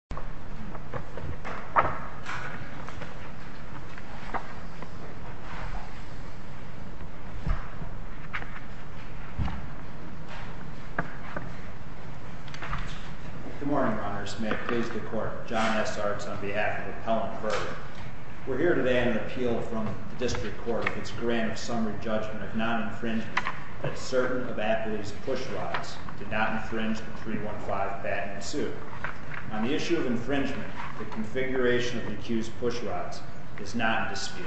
John S. Arts v. Pellant Verde Good morning, Runners. May it please the Court, I'm John S. Arts on behalf of Pellant Verde. We're here today on an appeal from the District Court of its grant of summary judgment of non-infringement that certain of athletes' push rods did not infringe the 315 patent suit. On the issue of infringement, the configuration of the accused's push rods is not in dispute.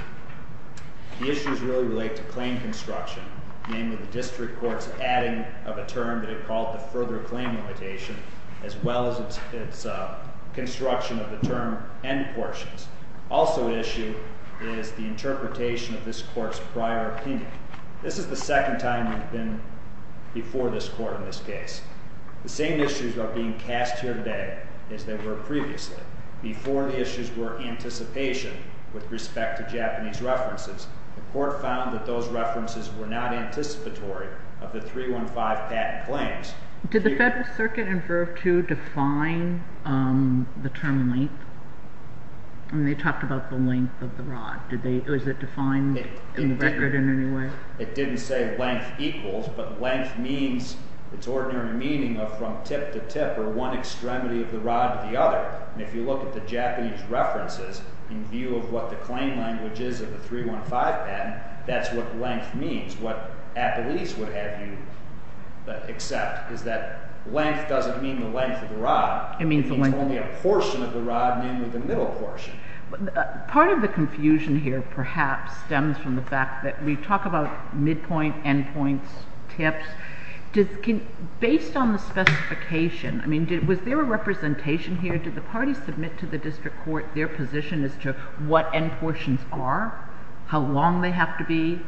The issues really relate to claim construction, namely the District Court's adding of a term that it called the further claim limitation, as well as its construction of the term end portions. Also at issue is the interpretation of this Court's prior opinion. This is the second time we've been before this Court in this case. The same issues are being cast here today as they were previously. Before, the issues were anticipation with respect to Japanese references. The Court found that those references were not anticipatory of the 315 patent claims. Did the Federal Circuit in Verve II define the term length? I mean, they talked about the length of the rod. Was it defined in the record in any way? It didn't say length equals, but length means its ordinary meaning of from tip to tip or one extremity of the rod to the other. If you look at the Japanese references in view of what the claim language is of the 315 patent, that's what length means. What at least would have you accept is that length doesn't mean the length of the rod. It means only a portion of the rod, namely the middle portion. Part of the confusion here perhaps stems from the fact that we talk about midpoint, endpoints, tips. Based on the specification, I mean, was there a representation here? Did the parties submit to the district court their position as to what end portions are, how long they have to be?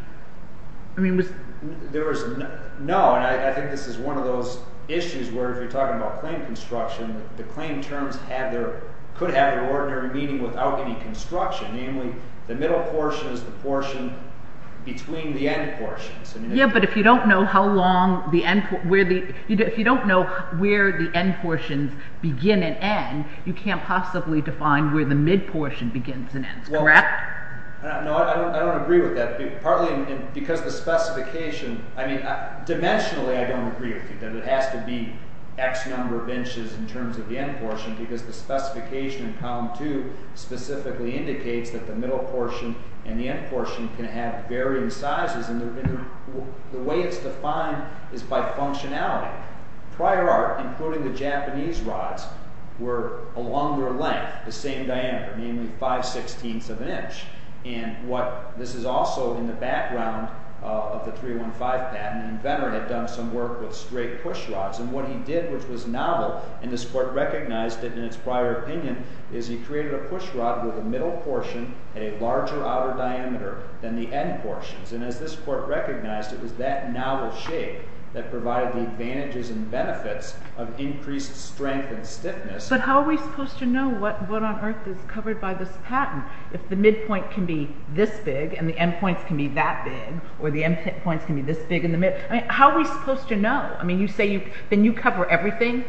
I mean, was there a... No, and I think this is one of those issues where if you're talking about claim construction, the claim terms could have their ordinary meaning without any construction, namely the middle portion is the portion between the end portions. Yeah, but if you don't know where the end portions begin and end, you can't possibly define where the mid portion begins and ends, correct? No, I don't agree with that. Partly because the specification, I mean, dimensionally I don't agree with you that it has to be X number of inches in terms of the end portion because the specification in column 2 specifically indicates that the middle portion and the end portion can have varying sizes. And the way it's defined is by functionality. Prior art, including the Japanese rods, were a longer length, the same diameter, namely 5 sixteenths of an inch. And this is also in the background of the 315 patent. An inventor had done some work with straight pushrods. And what he did, which was novel, and this court recognized it in its prior opinion, is he created a pushrod with a middle portion at a larger outer diameter than the end portions. And as this court recognized, it was that novel shape that provided the advantages and benefits of increased strength and stiffness. But how are we supposed to know what on earth is covered by this patent? If the mid point can be this big and the end points can be that big or the end points can be this big in the middle. How are we supposed to know? Then you cover everything?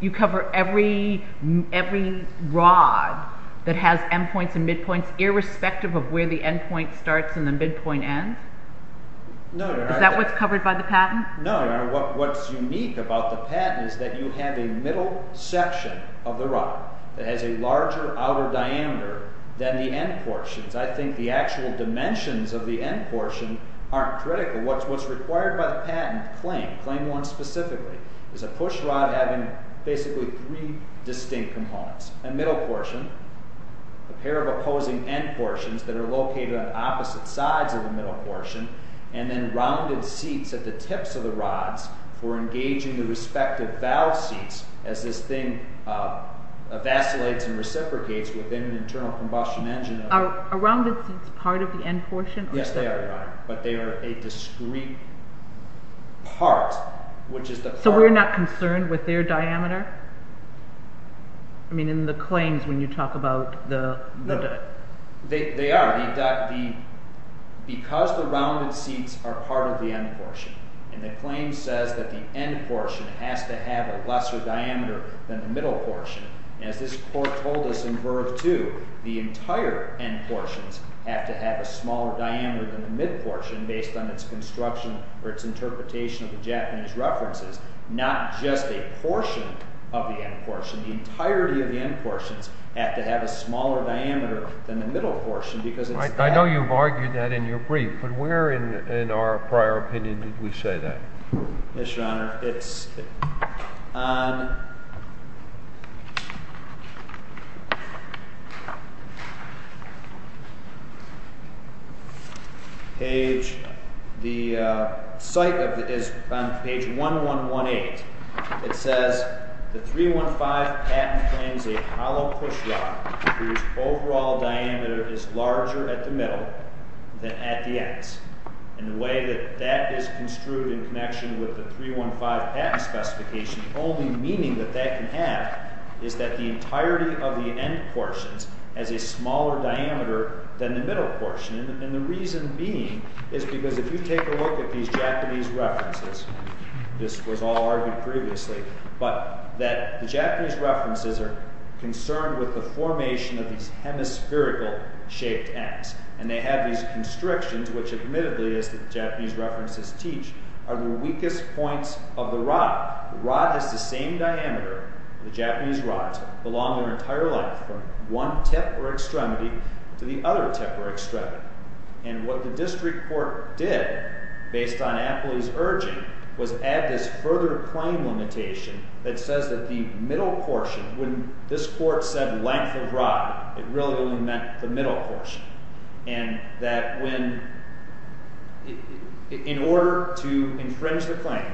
You cover every rod that has end points and mid points irrespective of where the end point starts and the mid point ends? Is that what's covered by the patent? No, what's unique about the patent is that you have a middle section of the rod that has a larger outer diameter than the end portions. I think the actual dimensions of the end portion aren't critical. What's required by the patent claim, claim one specifically, is a pushrod having basically three distinct components. A middle portion, a pair of opposing end portions that are located on opposite sides of the middle portion, and then rounded seats at the tips of the rods for engaging the respective valve seats as this thing vacillates and reciprocates within an internal combustion engine. Are rounded seats part of the end portion? Yes, they are, but they are a discrete part. So we're not concerned with their diameter? I mean in the claims when you talk about the... No, they are. Because the rounded seats are part of the end portion and the claim says that the end portion has to have a lesser diameter than the middle portion, as this court told us in Verve 2, the entire end portions have to have a smaller diameter than the mid portion based on its construction or its interpretation of the Japanese references, not just a portion of the end portion. The entirety of the end portions have to have a smaller diameter than the middle portion because it's... I know you've argued that in your brief, but where in our prior opinion did we say that? Yes, Your Honor. It's on page... The site of it is on page 1118. It says the 315 patent claims a hollow pushrod whose overall diameter is larger at the middle than at the ends. And the way that that is construed in connection with the 315 patent specification, the only meaning that that can have is that the entirety of the end portions has a smaller diameter than the middle portion. And the reason being is because if you take a look at these Japanese references, this was all argued previously, but that the Japanese references are concerned with the formation of these hemispherical shaped ends. And they have these constrictions, which admittedly, as the Japanese references teach, are the weakest points of the rod. The rod has the same diameter. The Japanese rods belong an entire length from one tip or extremity to the other tip or extremity. And what the district court did, based on Apley's urging, was add this further claim limitation that says that the middle portion, when this court said length of rod, it really only meant the middle portion. And that in order to infringe the claim,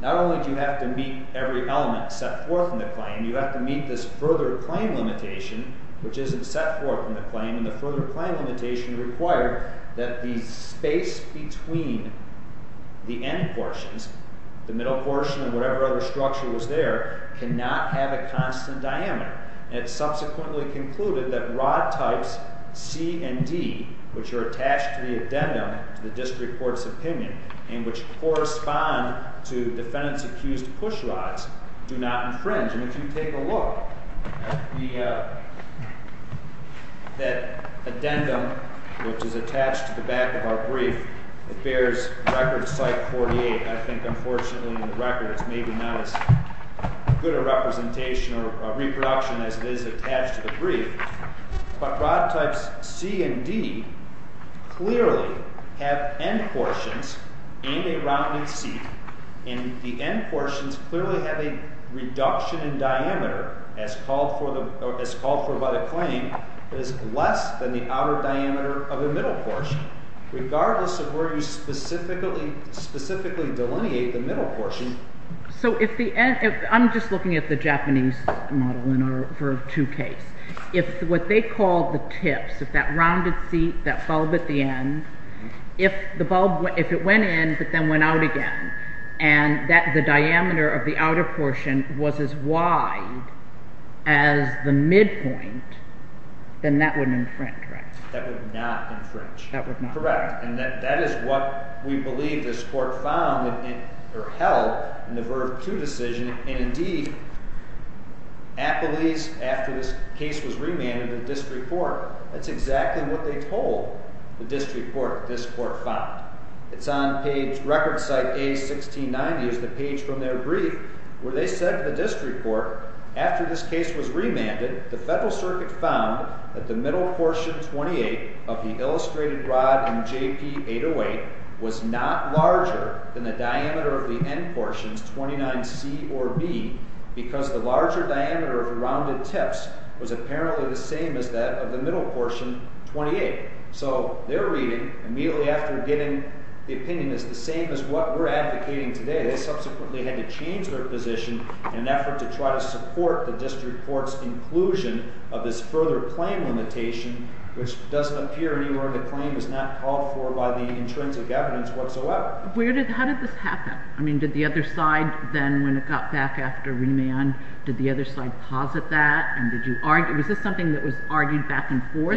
not only do you have to meet every element set forth in the claim, you have to meet this further claim limitation, which isn't set forth in the claim. And the further claim limitation required that the space between the end portions, the middle portion and whatever other structure was there, cannot have a constant diameter. And it subsequently concluded that rod types C and D, which are attached to the addendum to the district court's opinion and which correspond to defendant's accused push rods, do not infringe. And if you take a look at the addendum, which is attached to the back of our brief, it bears record site 48. I think, unfortunately, in the record, it's maybe not as good a representation or reproduction as it is attached to the brief. But rod types C and D clearly have end portions and a rounded seat. And the end portions clearly have a reduction in diameter, as called for by the claim, that is less than the outer diameter of the middle portion, regardless of where you specifically delineate the middle portion. So I'm just looking at the Japanese model in our verb 2 case. If what they call the tips, if that rounded seat, that bulb at the end, if it went in but then went out again, and the diameter of the outer portion was as wide as the midpoint, then that would infringe, right? That would not infringe. Correct. And that is what we believe this court found or held in the verb 2 decision. And, indeed, appellees, after this case was remanded to the district court, that's exactly what they told the district court that this court found. It's on page record site A1690 is the page from their brief where they said to the district court, after this case was remanded, the Federal Circuit found that the middle portion 28 of the illustrated rod in JP808 was not larger than the diameter of the end portions 29C or B because the larger diameter of the rounded tips was apparently the same as that of the middle portion 28. So their reading, immediately after getting the opinion, is the same as what we're advocating today. They subsequently had to change their position in an effort to try to support the district court's inclusion of this further claim limitation, which doesn't appear anywhere in the claim. It was not called for by the intrinsic evidence whatsoever. How did this happen? I mean, did the other side then, when it got back after remand, did the other side posit that? Was this something that was argued back and forth?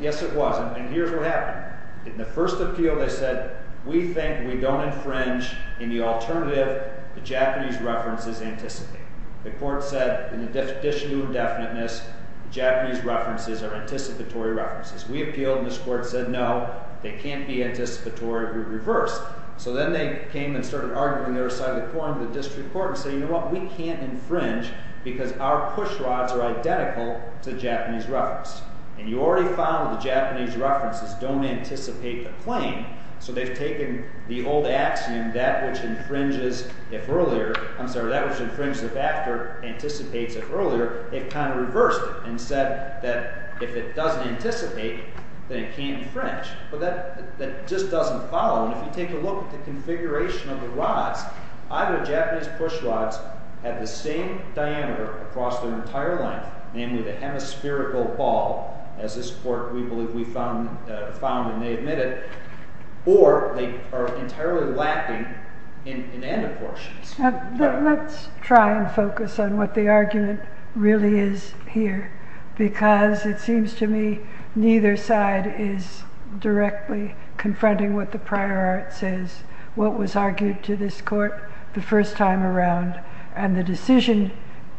Yes, it was, and here's what happened. In the first appeal, they said, we think we don't infringe in the alternative the Japanese references anticipate. The court said, in addition to indefiniteness, Japanese references are anticipatory references. We appealed, and this court said, no, they can't be anticipatory. We reversed. So then they came and started arguing the other side of the quorum, the district court, and said, you know what, we can't infringe because our push rods are identical to Japanese reference. And you already found that the Japanese references don't anticipate the claim, so they've taken the old axiom, that which infringes if earlier... I'm sorry, that which infringes if after anticipates if earlier. They've kind of reversed it and said that if it doesn't anticipate, then it can't infringe. But that just doesn't follow, and if you take a look at the configuration of the rods, either the Japanese push rods have the same diameter across their entire length, namely the hemispherical ball, as this court, we believe, found and they admitted, or they are entirely lacking in other portions. Let's try and focus on what the argument really is here, because it seems to me neither side is directly confronting what the prior art says, what was argued to this court the first time around, and the decision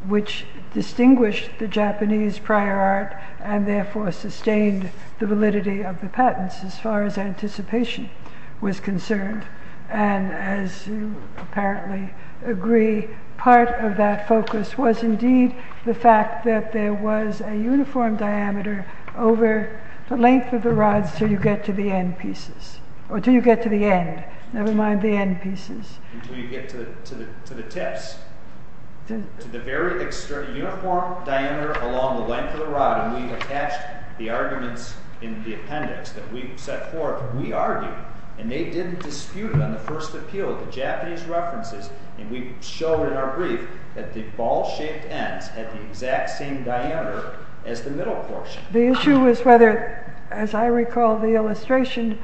which distinguished the Japanese prior art and therefore sustained the validity of the patents as far as anticipation was concerned. And as you apparently agree, part of that focus was indeed the fact that there was a uniform diameter over the length of the rods until you get to the end pieces, or until you get to the end, never mind the end pieces. Until you get to the tips, to the very extreme uniform diameter along the length of the rod, when we attached the arguments in the appendix that we set forth, we argued, and they didn't dispute it on the first appeal, the Japanese references, and we showed in our brief that the ball-shaped ends had the exact same diameter as the middle portion. The issue was whether, as I recall the illustration,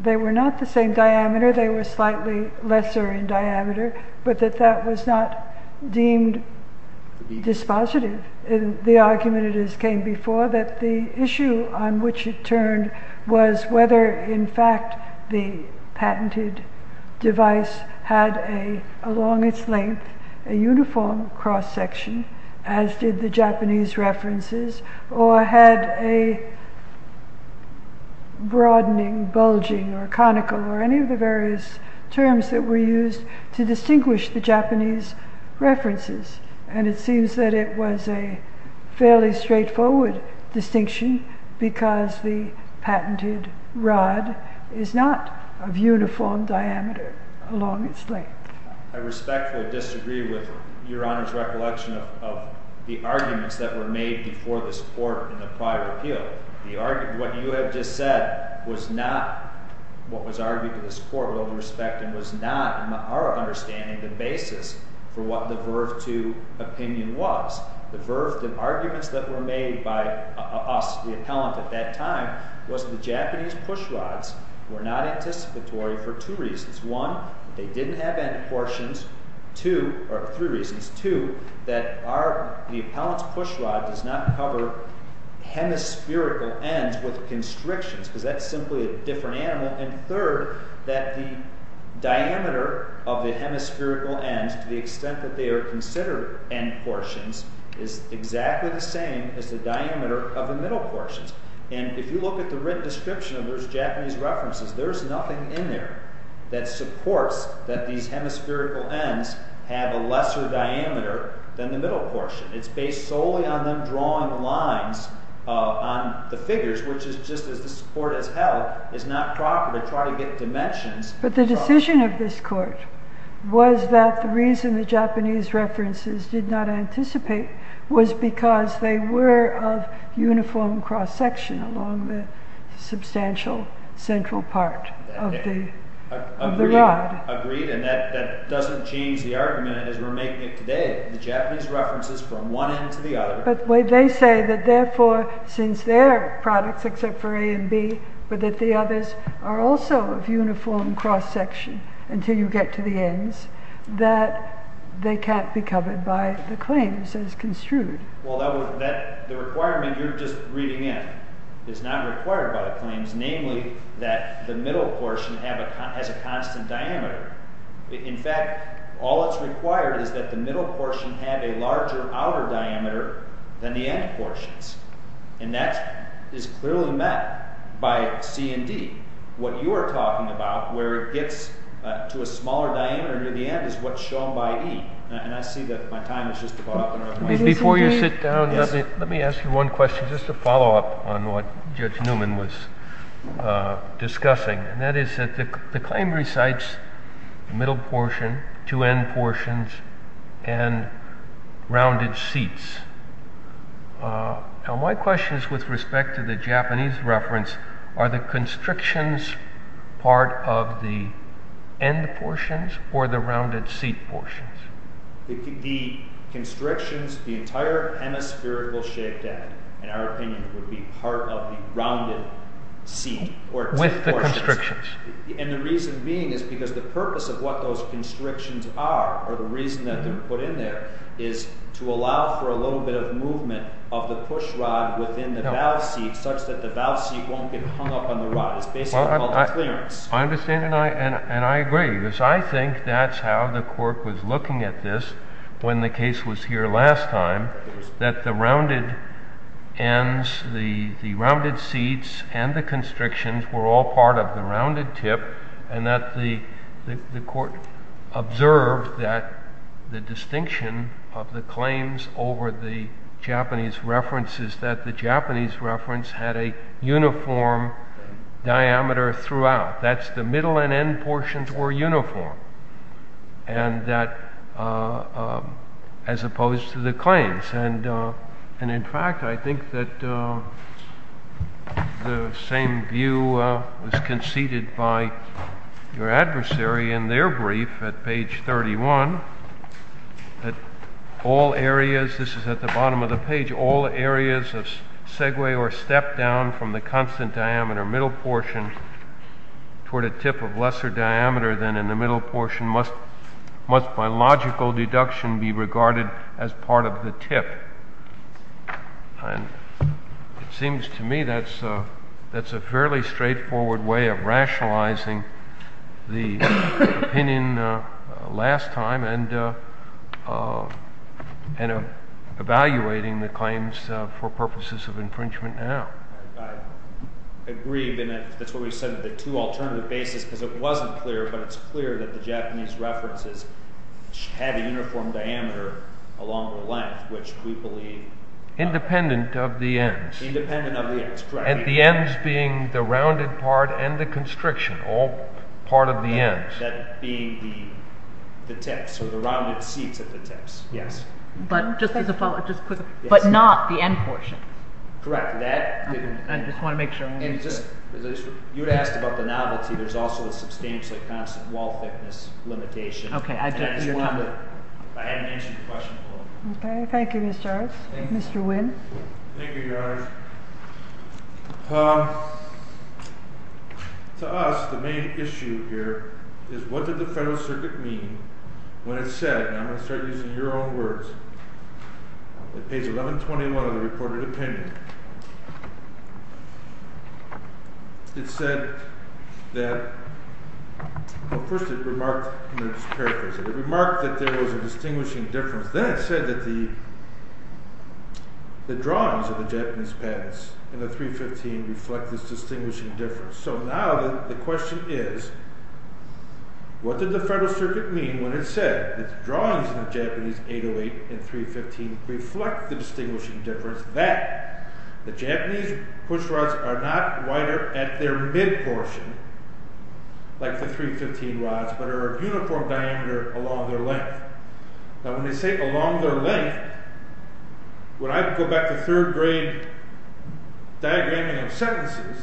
they were not the same diameter, they were slightly lesser in diameter, but that that was not deemed dispositive. The argument came before that the issue on which it turned was whether in fact the patented device had along its length a uniform cross-section, as did the Japanese references, or had a broadening, bulging, or conical, or any of the various terms that were used to distinguish the Japanese references. And it seems that it was a fairly straightforward distinction because the patented rod is not of uniform diameter along its length. I respectfully disagree with Your Honor's recollection of the arguments that were made before this court in the prior appeal. What you have just said was not what was argued to this court with all due respect and was not, in our understanding, the basis for what the Verve II opinion was. The arguments that were made by us, the appellant at that time, was the Japanese pushrods were not anticipatory for two reasons. One, they didn't have end portions. Two, or three reasons. Two, that the appellant's pushrod does not cover hemispherical ends with constrictions because that's simply a different animal. And third, that the diameter of the hemispherical ends, to the extent that they are considered end portions, is exactly the same as the diameter of the middle portions. And if you look at the written description of those Japanese references, there's nothing in there that supports that these hemispherical ends have a lesser diameter than the middle portion. It's based solely on them drawing lines on the figures, which is just as this court has held is not proper to try to get dimensions. But the decision of this court was that the reason the Japanese references did not anticipate was because they were of uniform cross-section along the substantial central part of the rod. Agreed, and that doesn't change the argument as we're making it today. The Japanese references from one end to the other. But they say that therefore, since they're products except for A and B, but that the others are also of uniform cross-section until you get to the ends, that they can't be covered by the claims as construed. Well, the requirement you're just reading in is not required by the claims, namely that the middle portion has a constant diameter. In fact, all that's required is that the middle portion have a larger outer diameter than the end portions. And that is clearly met by C and D. What you are talking about, where it gets to a smaller diameter near the end, is what's shown by E. And I see that my time is just about up. Before you sit down, let me ask you one question, just to follow up on what Judge Newman was discussing. And that is that the claim recites middle portion, two end portions, and rounded seats. Now my question is with respect to the Japanese reference, are the constrictions part of the end portions or the rounded seat portions? The constrictions, the entire hemispherical shaped head, in our opinion, would be part of the rounded seat. With the constrictions. And the reason being is because the purpose of what those constrictions are, or the reason that they're put in there, is to allow for a little bit of movement of the pushrod within the valve seat, such that the valve seat won't get hung up on the rod. It's basically called a clearance. I understand, and I agree. Because I think that's how the court was looking at this when the case was here last time, that the rounded seats and the constrictions were all part of the rounded tip, and that the court observed that the distinction of the claims over the Japanese reference is that the Japanese reference had a uniform diameter throughout. That's the middle and end portions were uniform, as opposed to the claims. And in fact, I think that the same view was conceded by your adversary in their brief at page 31, that all areas, this is at the bottom of the page, all areas of segue or step down from the constant diameter middle portion toward a tip of lesser diameter than in the middle portion must by logical deduction be regarded as part of the tip. And it seems to me that's a fairly straightforward way of rationalizing the opinion last time and evaluating the claims for purposes of infringement now. I agree. That's why we said the two alternative bases, because it wasn't clear, but it's clear that the Japanese references had a uniform diameter along the length, which we believe... Independent of the ends. Independent of the ends, correct. And the ends being the rounded part and the constriction, all part of the ends. That being the tips, or the rounded seats at the tips. Yes. But not the end portion. Correct. I just want to make sure. You had asked about the novelty. There's also a substantially constant wall thickness limitation. Okay. I hadn't answered your question before. Okay. Thank you, Mr. Jones. Mr. Wynn. Thank you, Your Honor. To us, the main issue here is what did the Federal Circuit mean when it said, and I'm going to start using your own words, at page 1121 of the reported opinion, it said that... Well, first it remarked, and I'll just paraphrase it, it remarked that there was a distinguishing difference. Then it said that the drawings of the Japanese patents in the 315 reflect this distinguishing difference. So now the question is, what did the Federal Circuit mean when it said that the drawings in the Japanese 808 and 315 reflect the distinguishing difference that the Japanese pushrods are not wider at their mid-portion, like the 315 rods, but are of uniform diameter along their length. Now when they say along their length, when I go back to third-grade diagramming of sentences,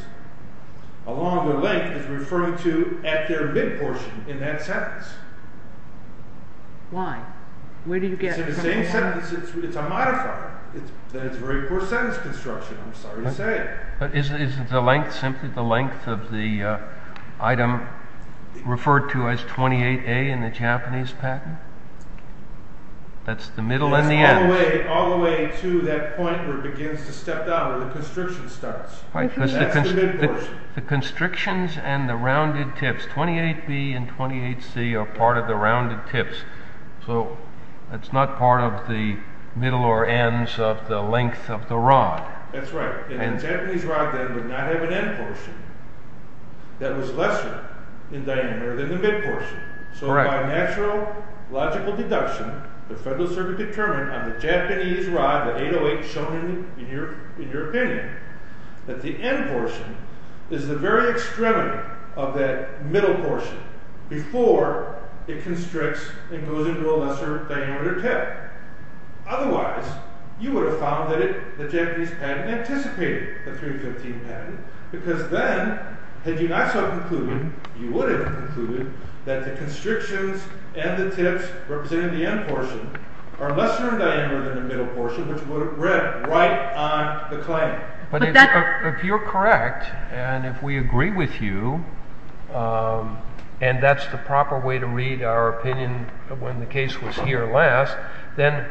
along their length is referring to at their mid-portion in that sentence. Why? Where do you get... It's in the same sentence. It's a modifier. That's very poor sentence construction, I'm sorry to say. But isn't the length simply the length of the item referred to as 28A in the Japanese patent? That's the middle and the end. It's all the way to that point where it begins to step down, where the constriction starts. That's the mid-portion. The constrictions and the rounded tips, 28B and 28C are part of the rounded tips, so it's not part of the middle or ends of the length of the rod. That's right. And the Japanese rod then would not have an end portion that was lesser in diameter than the mid-portion. So by natural, logical deduction, the Federal Circuit determined on the Japanese rod, the 808 shown in your opinion, that the end portion is the very extremity of that middle portion before it constricts and goes into a lesser diameter tip. Otherwise, you would have found that the Japanese patent anticipated the 315 patent, because then, had you not so concluded, you would have concluded that the constrictions and the tips representing the end portion are lesser in diameter than the middle portion, which would have ripped right on the claim. But if you're correct, and if we agree with you, and that's the proper way to read our opinion when the case was here last, then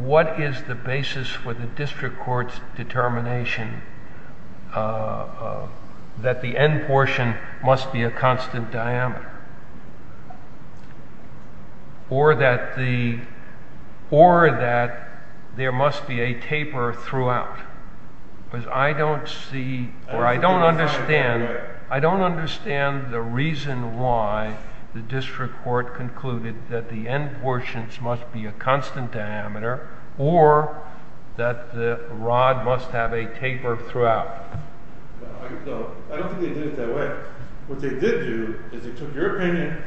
what is the basis for the district court's determination that the end portion must be a constant diameter or that there must be a taper throughout? Because I don't see, or I don't understand, I don't understand the reason why the district court concluded that the end portions must be a constant diameter or that the rod must have a taper throughout. I don't think they did it that way. But what they did do is they took your opinion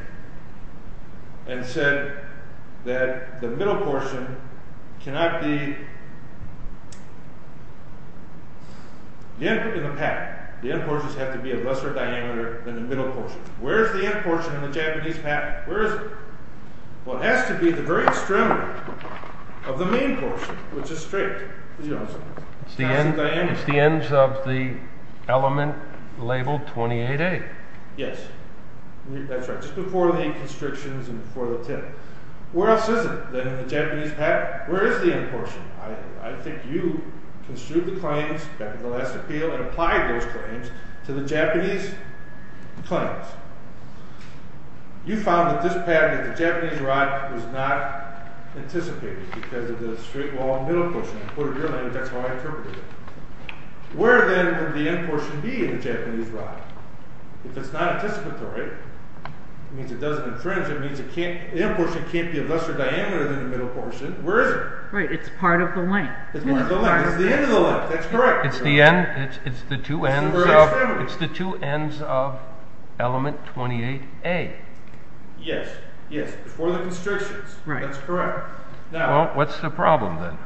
and said that the middle portion cannot be the end in the patent. The end portions have to be a lesser diameter than the middle portion. Where is the end portion in the Japanese patent? Where is it? Well, it has to be at the very extremity of the main portion, which is straight. It's the ends of the element labeled 28A. Yes, that's right. Just before the constrictions and before the tip. Where else is it than in the Japanese patent? Where is the end portion? I think you construed the claims back in the last appeal and applied those claims to the Japanese claims. You found that this patent of the Japanese rod was not anticipated because of the straight wall in the middle portion. In your language, that's how I interpreted it. Where, then, would the end portion be in the Japanese rod? If it's not anticipatory, it means it doesn't infringe. It means the end portion can't be a lesser diameter than the middle portion. Where is it? It's part of the length. It's the end of the length. That's correct. It's the two ends of element 28A. Yes, before the constrictions. That's correct. Well, what's the problem, then?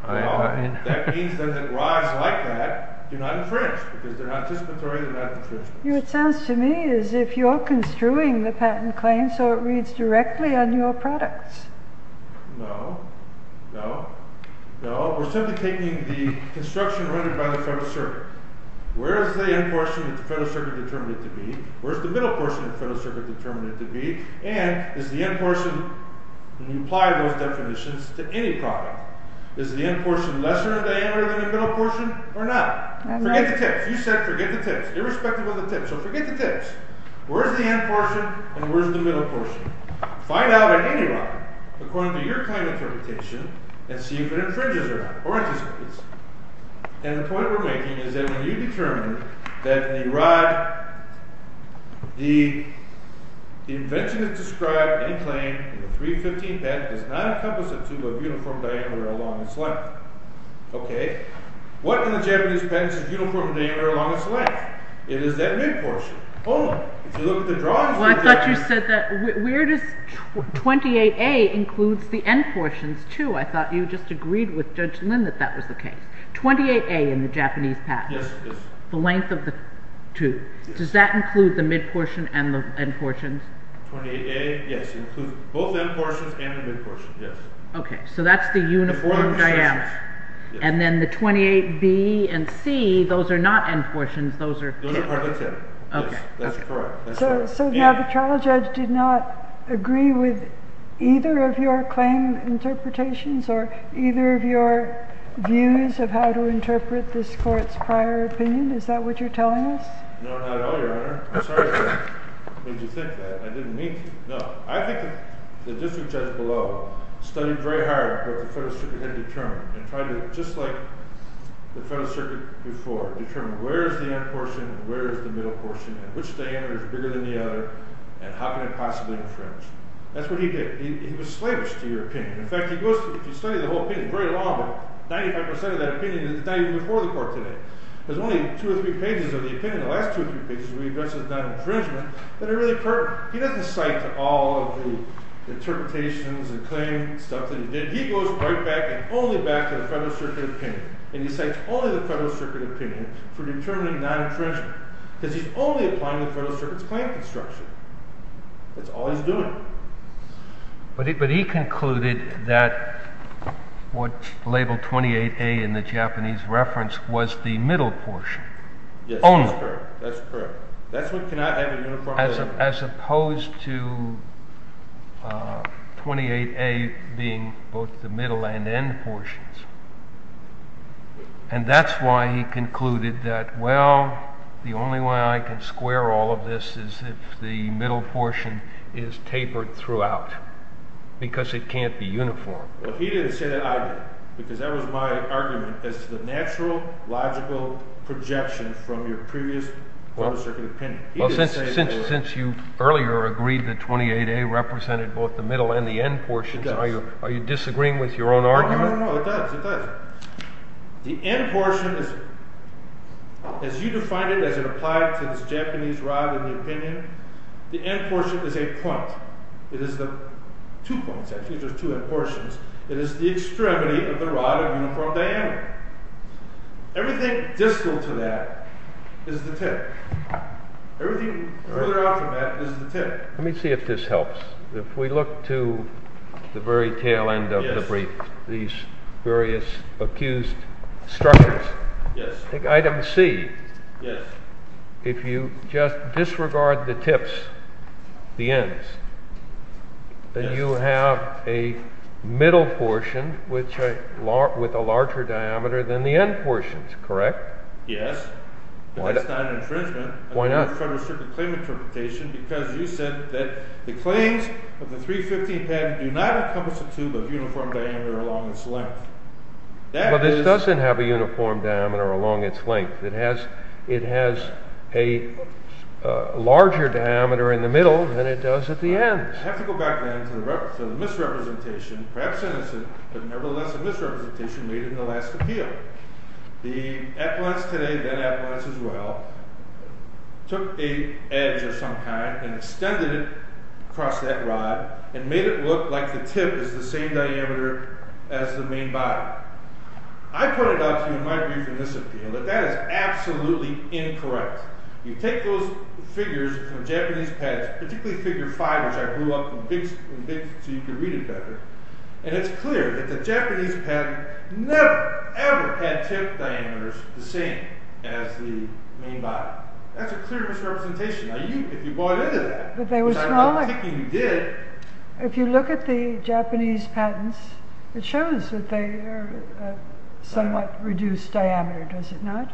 That means that rods like that do not infringe because they're not anticipatory, they're not infringing. It sounds to me as if you're construing the patent claim so it reads directly on your products. No, no, no. We're simply taking the construction rendered by the Federal Circuit. Where is the end portion that the Federal Circuit determined it to be? Where is the middle portion that the Federal Circuit determined it to be? And is the end portion, when you apply those definitions, to any product, is the end portion lesser in diameter than the middle portion or not? Forget the tips. You said forget the tips. Irrespective of the tips. So forget the tips. Where's the end portion and where's the middle portion? Find out at any rod, according to your kind of interpretation, and see if it infringes or not, or anticipates. And the point we're making is that when you determine that the rod, the invention that's described in claim in the 315 patent does not encompass a tube of uniform diameter along its length. Okay? What in the Japanese patent is uniform in diameter along its length? It is that mid portion. Oh, if you look at the drawings. Well, I thought you said that 28A includes the end portions, too. I thought you just agreed with Judge Lin that that was the case. 28A in the Japanese patent. Yes, yes. The length of the tube. Does that include the mid portion and the end portions? 28A, yes, includes both end portions and the mid portion, yes. Okay, so that's the uniform diameter. And then the 28B and C, those are not end portions. Those are part of the tip. Okay. That's correct. So now the trial judge did not agree with either of your claim interpretations or either of your views of how to interpret this court's prior opinion. Is that what you're telling us? No, not at all, Your Honor. I'm sorry to make you think that. I didn't mean to. No, I think the district judge below studied very hard what the Federal Circuit had determined and tried to, just like the Federal Circuit before, determine where is the end portion and where is the middle portion and which diameter is bigger than the other and how can it possibly infringe. That's what he did. He was slavish, to your opinion. In fact, if you study the whole opinion, it's very long, but 95% of that opinion is not even before the court today. There's only two or three pages of the opinion, the last two or three pages, where he addresses non-infringement, that are really pertinent. He doesn't cite all of the interpretations and claim stuff that he did. He goes right back and only back to the Federal Circuit opinion, and he cites only the Federal Circuit opinion for determining non-infringement because he's only applying the Federal Circuit's claim construction. That's all he's doing. But he concluded that what labeled 28A in the Japanese reference was the middle portion. Yes, that's correct. That's what cannot have a uniform diameter. As opposed to 28A being both the middle and end portions. And that's why he concluded that, well, the only way I can square all of this is if the middle portion is tapered throughout, because it can't be uniform. Well, he didn't say that either, because that was my argument as to the natural, logical projection from your previous Federal Circuit opinion. Well, since you earlier agreed that 28A represented both the middle and the end portions, are you disagreeing with your own argument? No, no, no, it does, it does. The end portion, as you defined it, as it applied to this Japanese rod in the opinion, the end portion is a point. It is the two points, actually, there's two end portions. It is the extremity of the rod of uniform diameter. Everything distal to that is the tip. Everything further out from that is the tip. Let me see if this helps. If we look to the very tail end of the brief, these various accused structures, take item C, if you just disregard the tips, the ends, then you have a middle portion with a larger diameter than the end portions, correct? Yes, but that's not an infringement of the Federal Circuit claim interpretation because you said that the claims of the 315 pattern do not encompass a tube of uniform diameter along its length. Well, this doesn't have a uniform diameter along its length. It has a larger diameter in the middle than it does at the ends. I have to go back then to the misrepresentation, perhaps innocent, but nevertheless a misrepresentation made in the last appeal. The appellants today, then appellants as well, took a edge of some kind and extended it across that rod and made it look like the tip is the same diameter as the main body. I pointed out to you in my brief in this appeal that that is absolutely incorrect. You take those figures from Japanese patents, particularly figure 5, which I grew up with so you can read it better, and it's clear that the Japanese patent never, ever had tip diameters the same as the main body. That's a clear misrepresentation. Now, if you bought into that, which I don't think you did, if you look at the Japanese patents, it shows that they are somewhat reduced diameter. Does it not?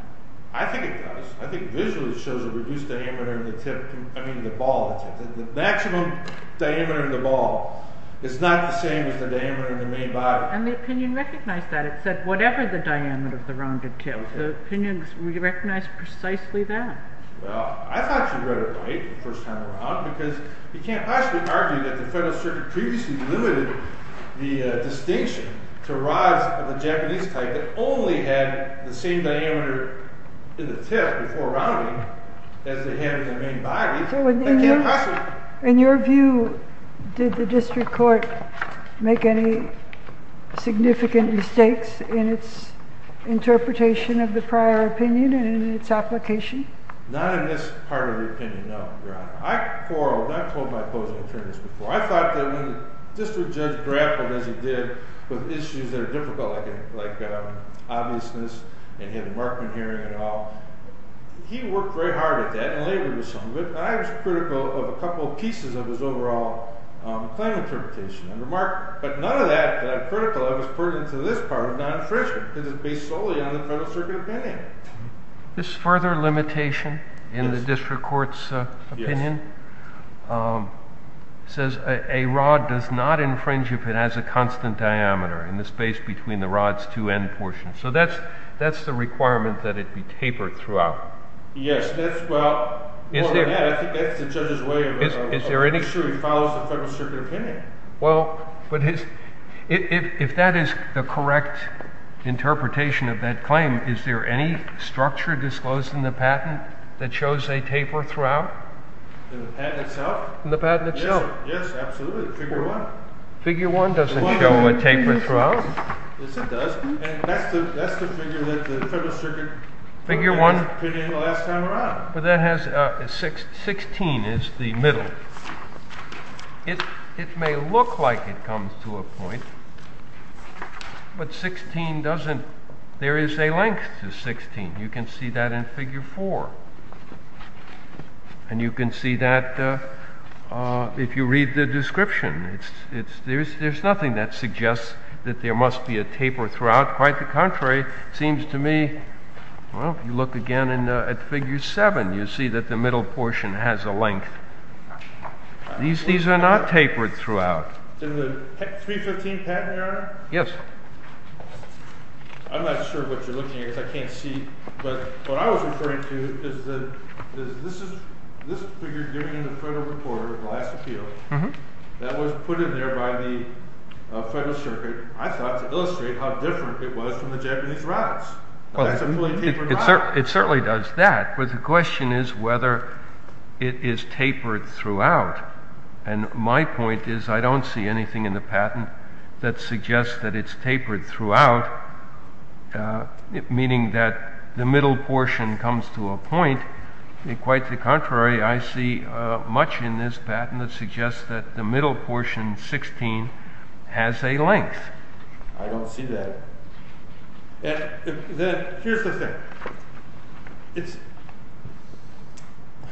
I think it does. I think visually it shows a reduced diameter in the tip, I mean the ball. The maximum diameter in the ball is not the same as the diameter in the main body. And the opinion recognized that. It said whatever the diameter of the rounded tip. The opinion recognized precisely that. Well, I thought you read it right the first time around because you can't possibly argue that the Federal Circuit previously limited the distinction to rods of the Japanese type that only had the same diameter in the tip before rounding as they had in the main body. They can't possibly. In your view, did the District Court make any significant mistakes in its interpretation of the prior opinion and in its application? Not in this part of the opinion, no, Your Honor. I quarreled. I've told my opposing attorneys before. I thought that when the District Judge grappled as he did with issues that are difficult like obviousness, and he had a Markman hearing and all, he worked very hard at that and labored with some of it. I was critical of a couple of pieces of his overall claim interpretation. But none of that that I'm critical of is pertinent to this part of non-infringement because it's based solely on the Federal Circuit opinion. This further limitation in the District Court's opinion says a rod does not infringe if it has a constant diameter in the space between the rod's two end portions. So that's the requirement that it be tapered throughout. Yes. Well, I think that's the judge's way of... He follows the Federal Circuit opinion. Well, if that is the correct interpretation of that claim, is there any structure disclosed in the patent that shows a taper throughout? In the patent itself? In the patent itself. Yes, absolutely. Figure 1. Figure 1 doesn't show a taper throughout. Yes, it does. And that's the figure that the Federal Circuit put in the last time around. But that has... 16 is the middle. It may look like it comes to a point, but 16 doesn't... There is a length to 16. You can see that in Figure 4. And you can see that if you read the description. There's nothing that suggests that there must be a taper throughout. Quite the contrary. It seems to me... Well, if you look again at Figure 7, you see that the middle portion has a length. These are not tapered throughout. In the 315 patent, Your Honor? Yes. I'm not sure what you're looking at because I can't see. But what I was referring to is this figure given in the Federal Report of the last appeal that was put in there by the Federal Circuit, I thought, to illustrate how different it was from the Japanese routes. That's a fully tapered route. It certainly does that. But the question is whether it is tapered throughout. And my point is I don't see anything in the patent that suggests that it's tapered throughout, meaning that the middle portion comes to a point. Quite the contrary. I see much in this patent that suggests that the middle portion, 16, has a length. I don't see that. Here's the thing.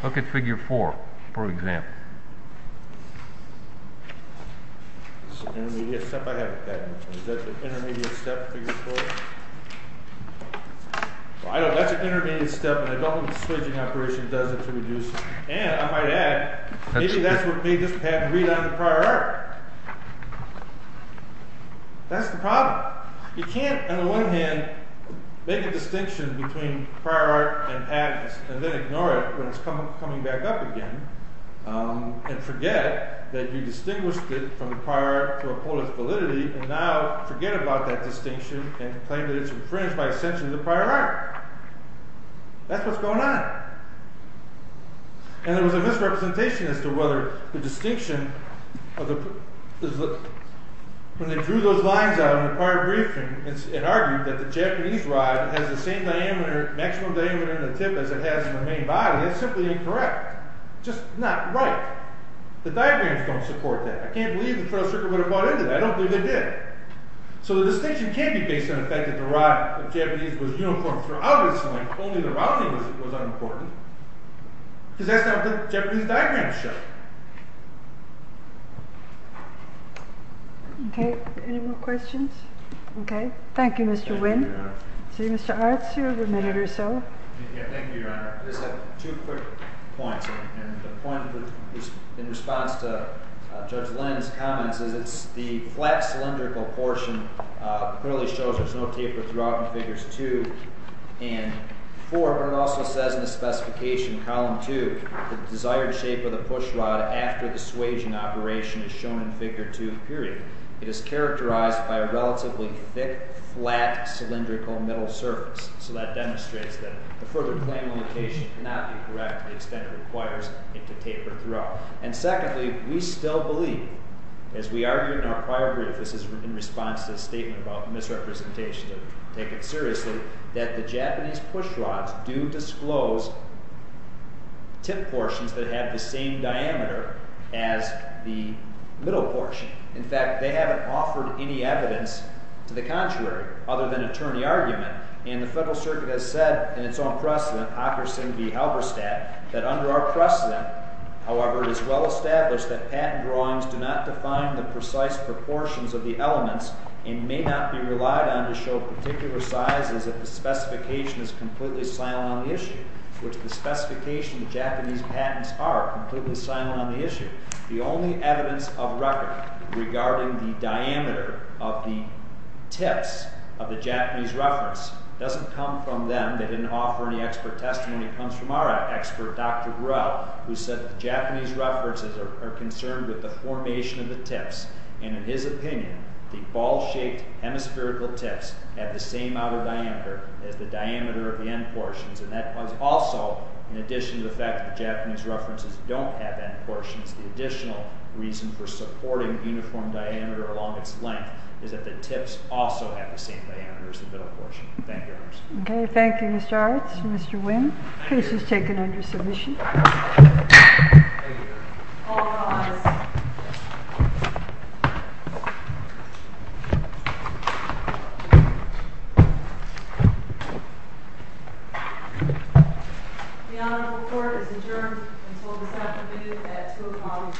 Look at Figure 4, for example. It's an intermediate step. I have a patent. Is that the intermediate step, Figure 4? That's an intermediate step, and I don't think the switching operation does it to reduce it. And I might add, maybe that's what made this patent read on the prior art. That's the problem. You can't, on the one hand, make a distinction between prior art and patents and then ignore it when it's coming back up again and forget that you distinguished it from the prior art to a point of validity and now forget about that distinction and claim that it's infringed by essentially the prior art. That's what's going on. And there was a misrepresentation as to whether the distinction... When they drew those lines out in the prior briefing and argued that the Japanese rod has the same maximum diameter in the tip as it has in the main body, that's simply incorrect. Just not right. The diagrams don't support that. I can't believe the Federal Circuit would have bought into that. I don't believe they did. So the distinction can't be based on the fact that the rod of Japanese was uniform throughout its length. Only the rounding was unimportant. Because that's not what the Japanese diagrams show. Okay. Any more questions? Okay. Thank you, Mr. Wynn. See, Mr. Arts, you have a minute or so. Thank you, Your Honor. I just have two quick points. And the point in response to Judge Lenz's comments is that the flat cylindrical portion clearly shows there's no taper throughout in Figures 2 and 4, but it also says in the specification, Column 2, the desired shape of the push rod after the swaging operation is shown in Figure 2, period. It is characterized by a relatively thick, flat cylindrical middle surface. So that demonstrates that the further claim of location cannot be correct to the extent it requires it to taper throughout. And secondly, we still believe, as we argued in our prior brief, this is in response to a statement about misrepresentation, to take it seriously, that the Japanese push rods do disclose tip portions that have the same diameter as the middle portion. In fact, they haven't offered any evidence to the contrary, other than attorney argument. And the Federal Circuit has said, in its own precedent, occurs in the Halberstadt, that under our precedent, however, it is well established that patent drawings do not define the precise proportions of the elements and may not be relied on to show particular sizes if the specification is completely silent on the issue, which the specification the Japanese patents are completely silent on the issue. The only evidence of record regarding the diameter of the tips of the Japanese reference doesn't come from them. They didn't offer any expert testimony. It comes from our expert, Dr. Burrell, who said the Japanese references are concerned with the formation of the tips, and in his opinion, the ball-shaped hemispherical tips have the same outer diameter as the diameter of the end portions. And that was also, in addition to the fact that Japanese references don't have end portions, the additional reason for supporting uniform diameter along its length is that the tips also have the same diameter as the middle portion. Thank you, Your Honor. Okay, thank you, Mr. Arts. Mr. Wynn, case is taken under submission. Thank you, Your Honor. All rise. The honorable court is adjourned until this afternoon at 2 o'clock in the afternoon.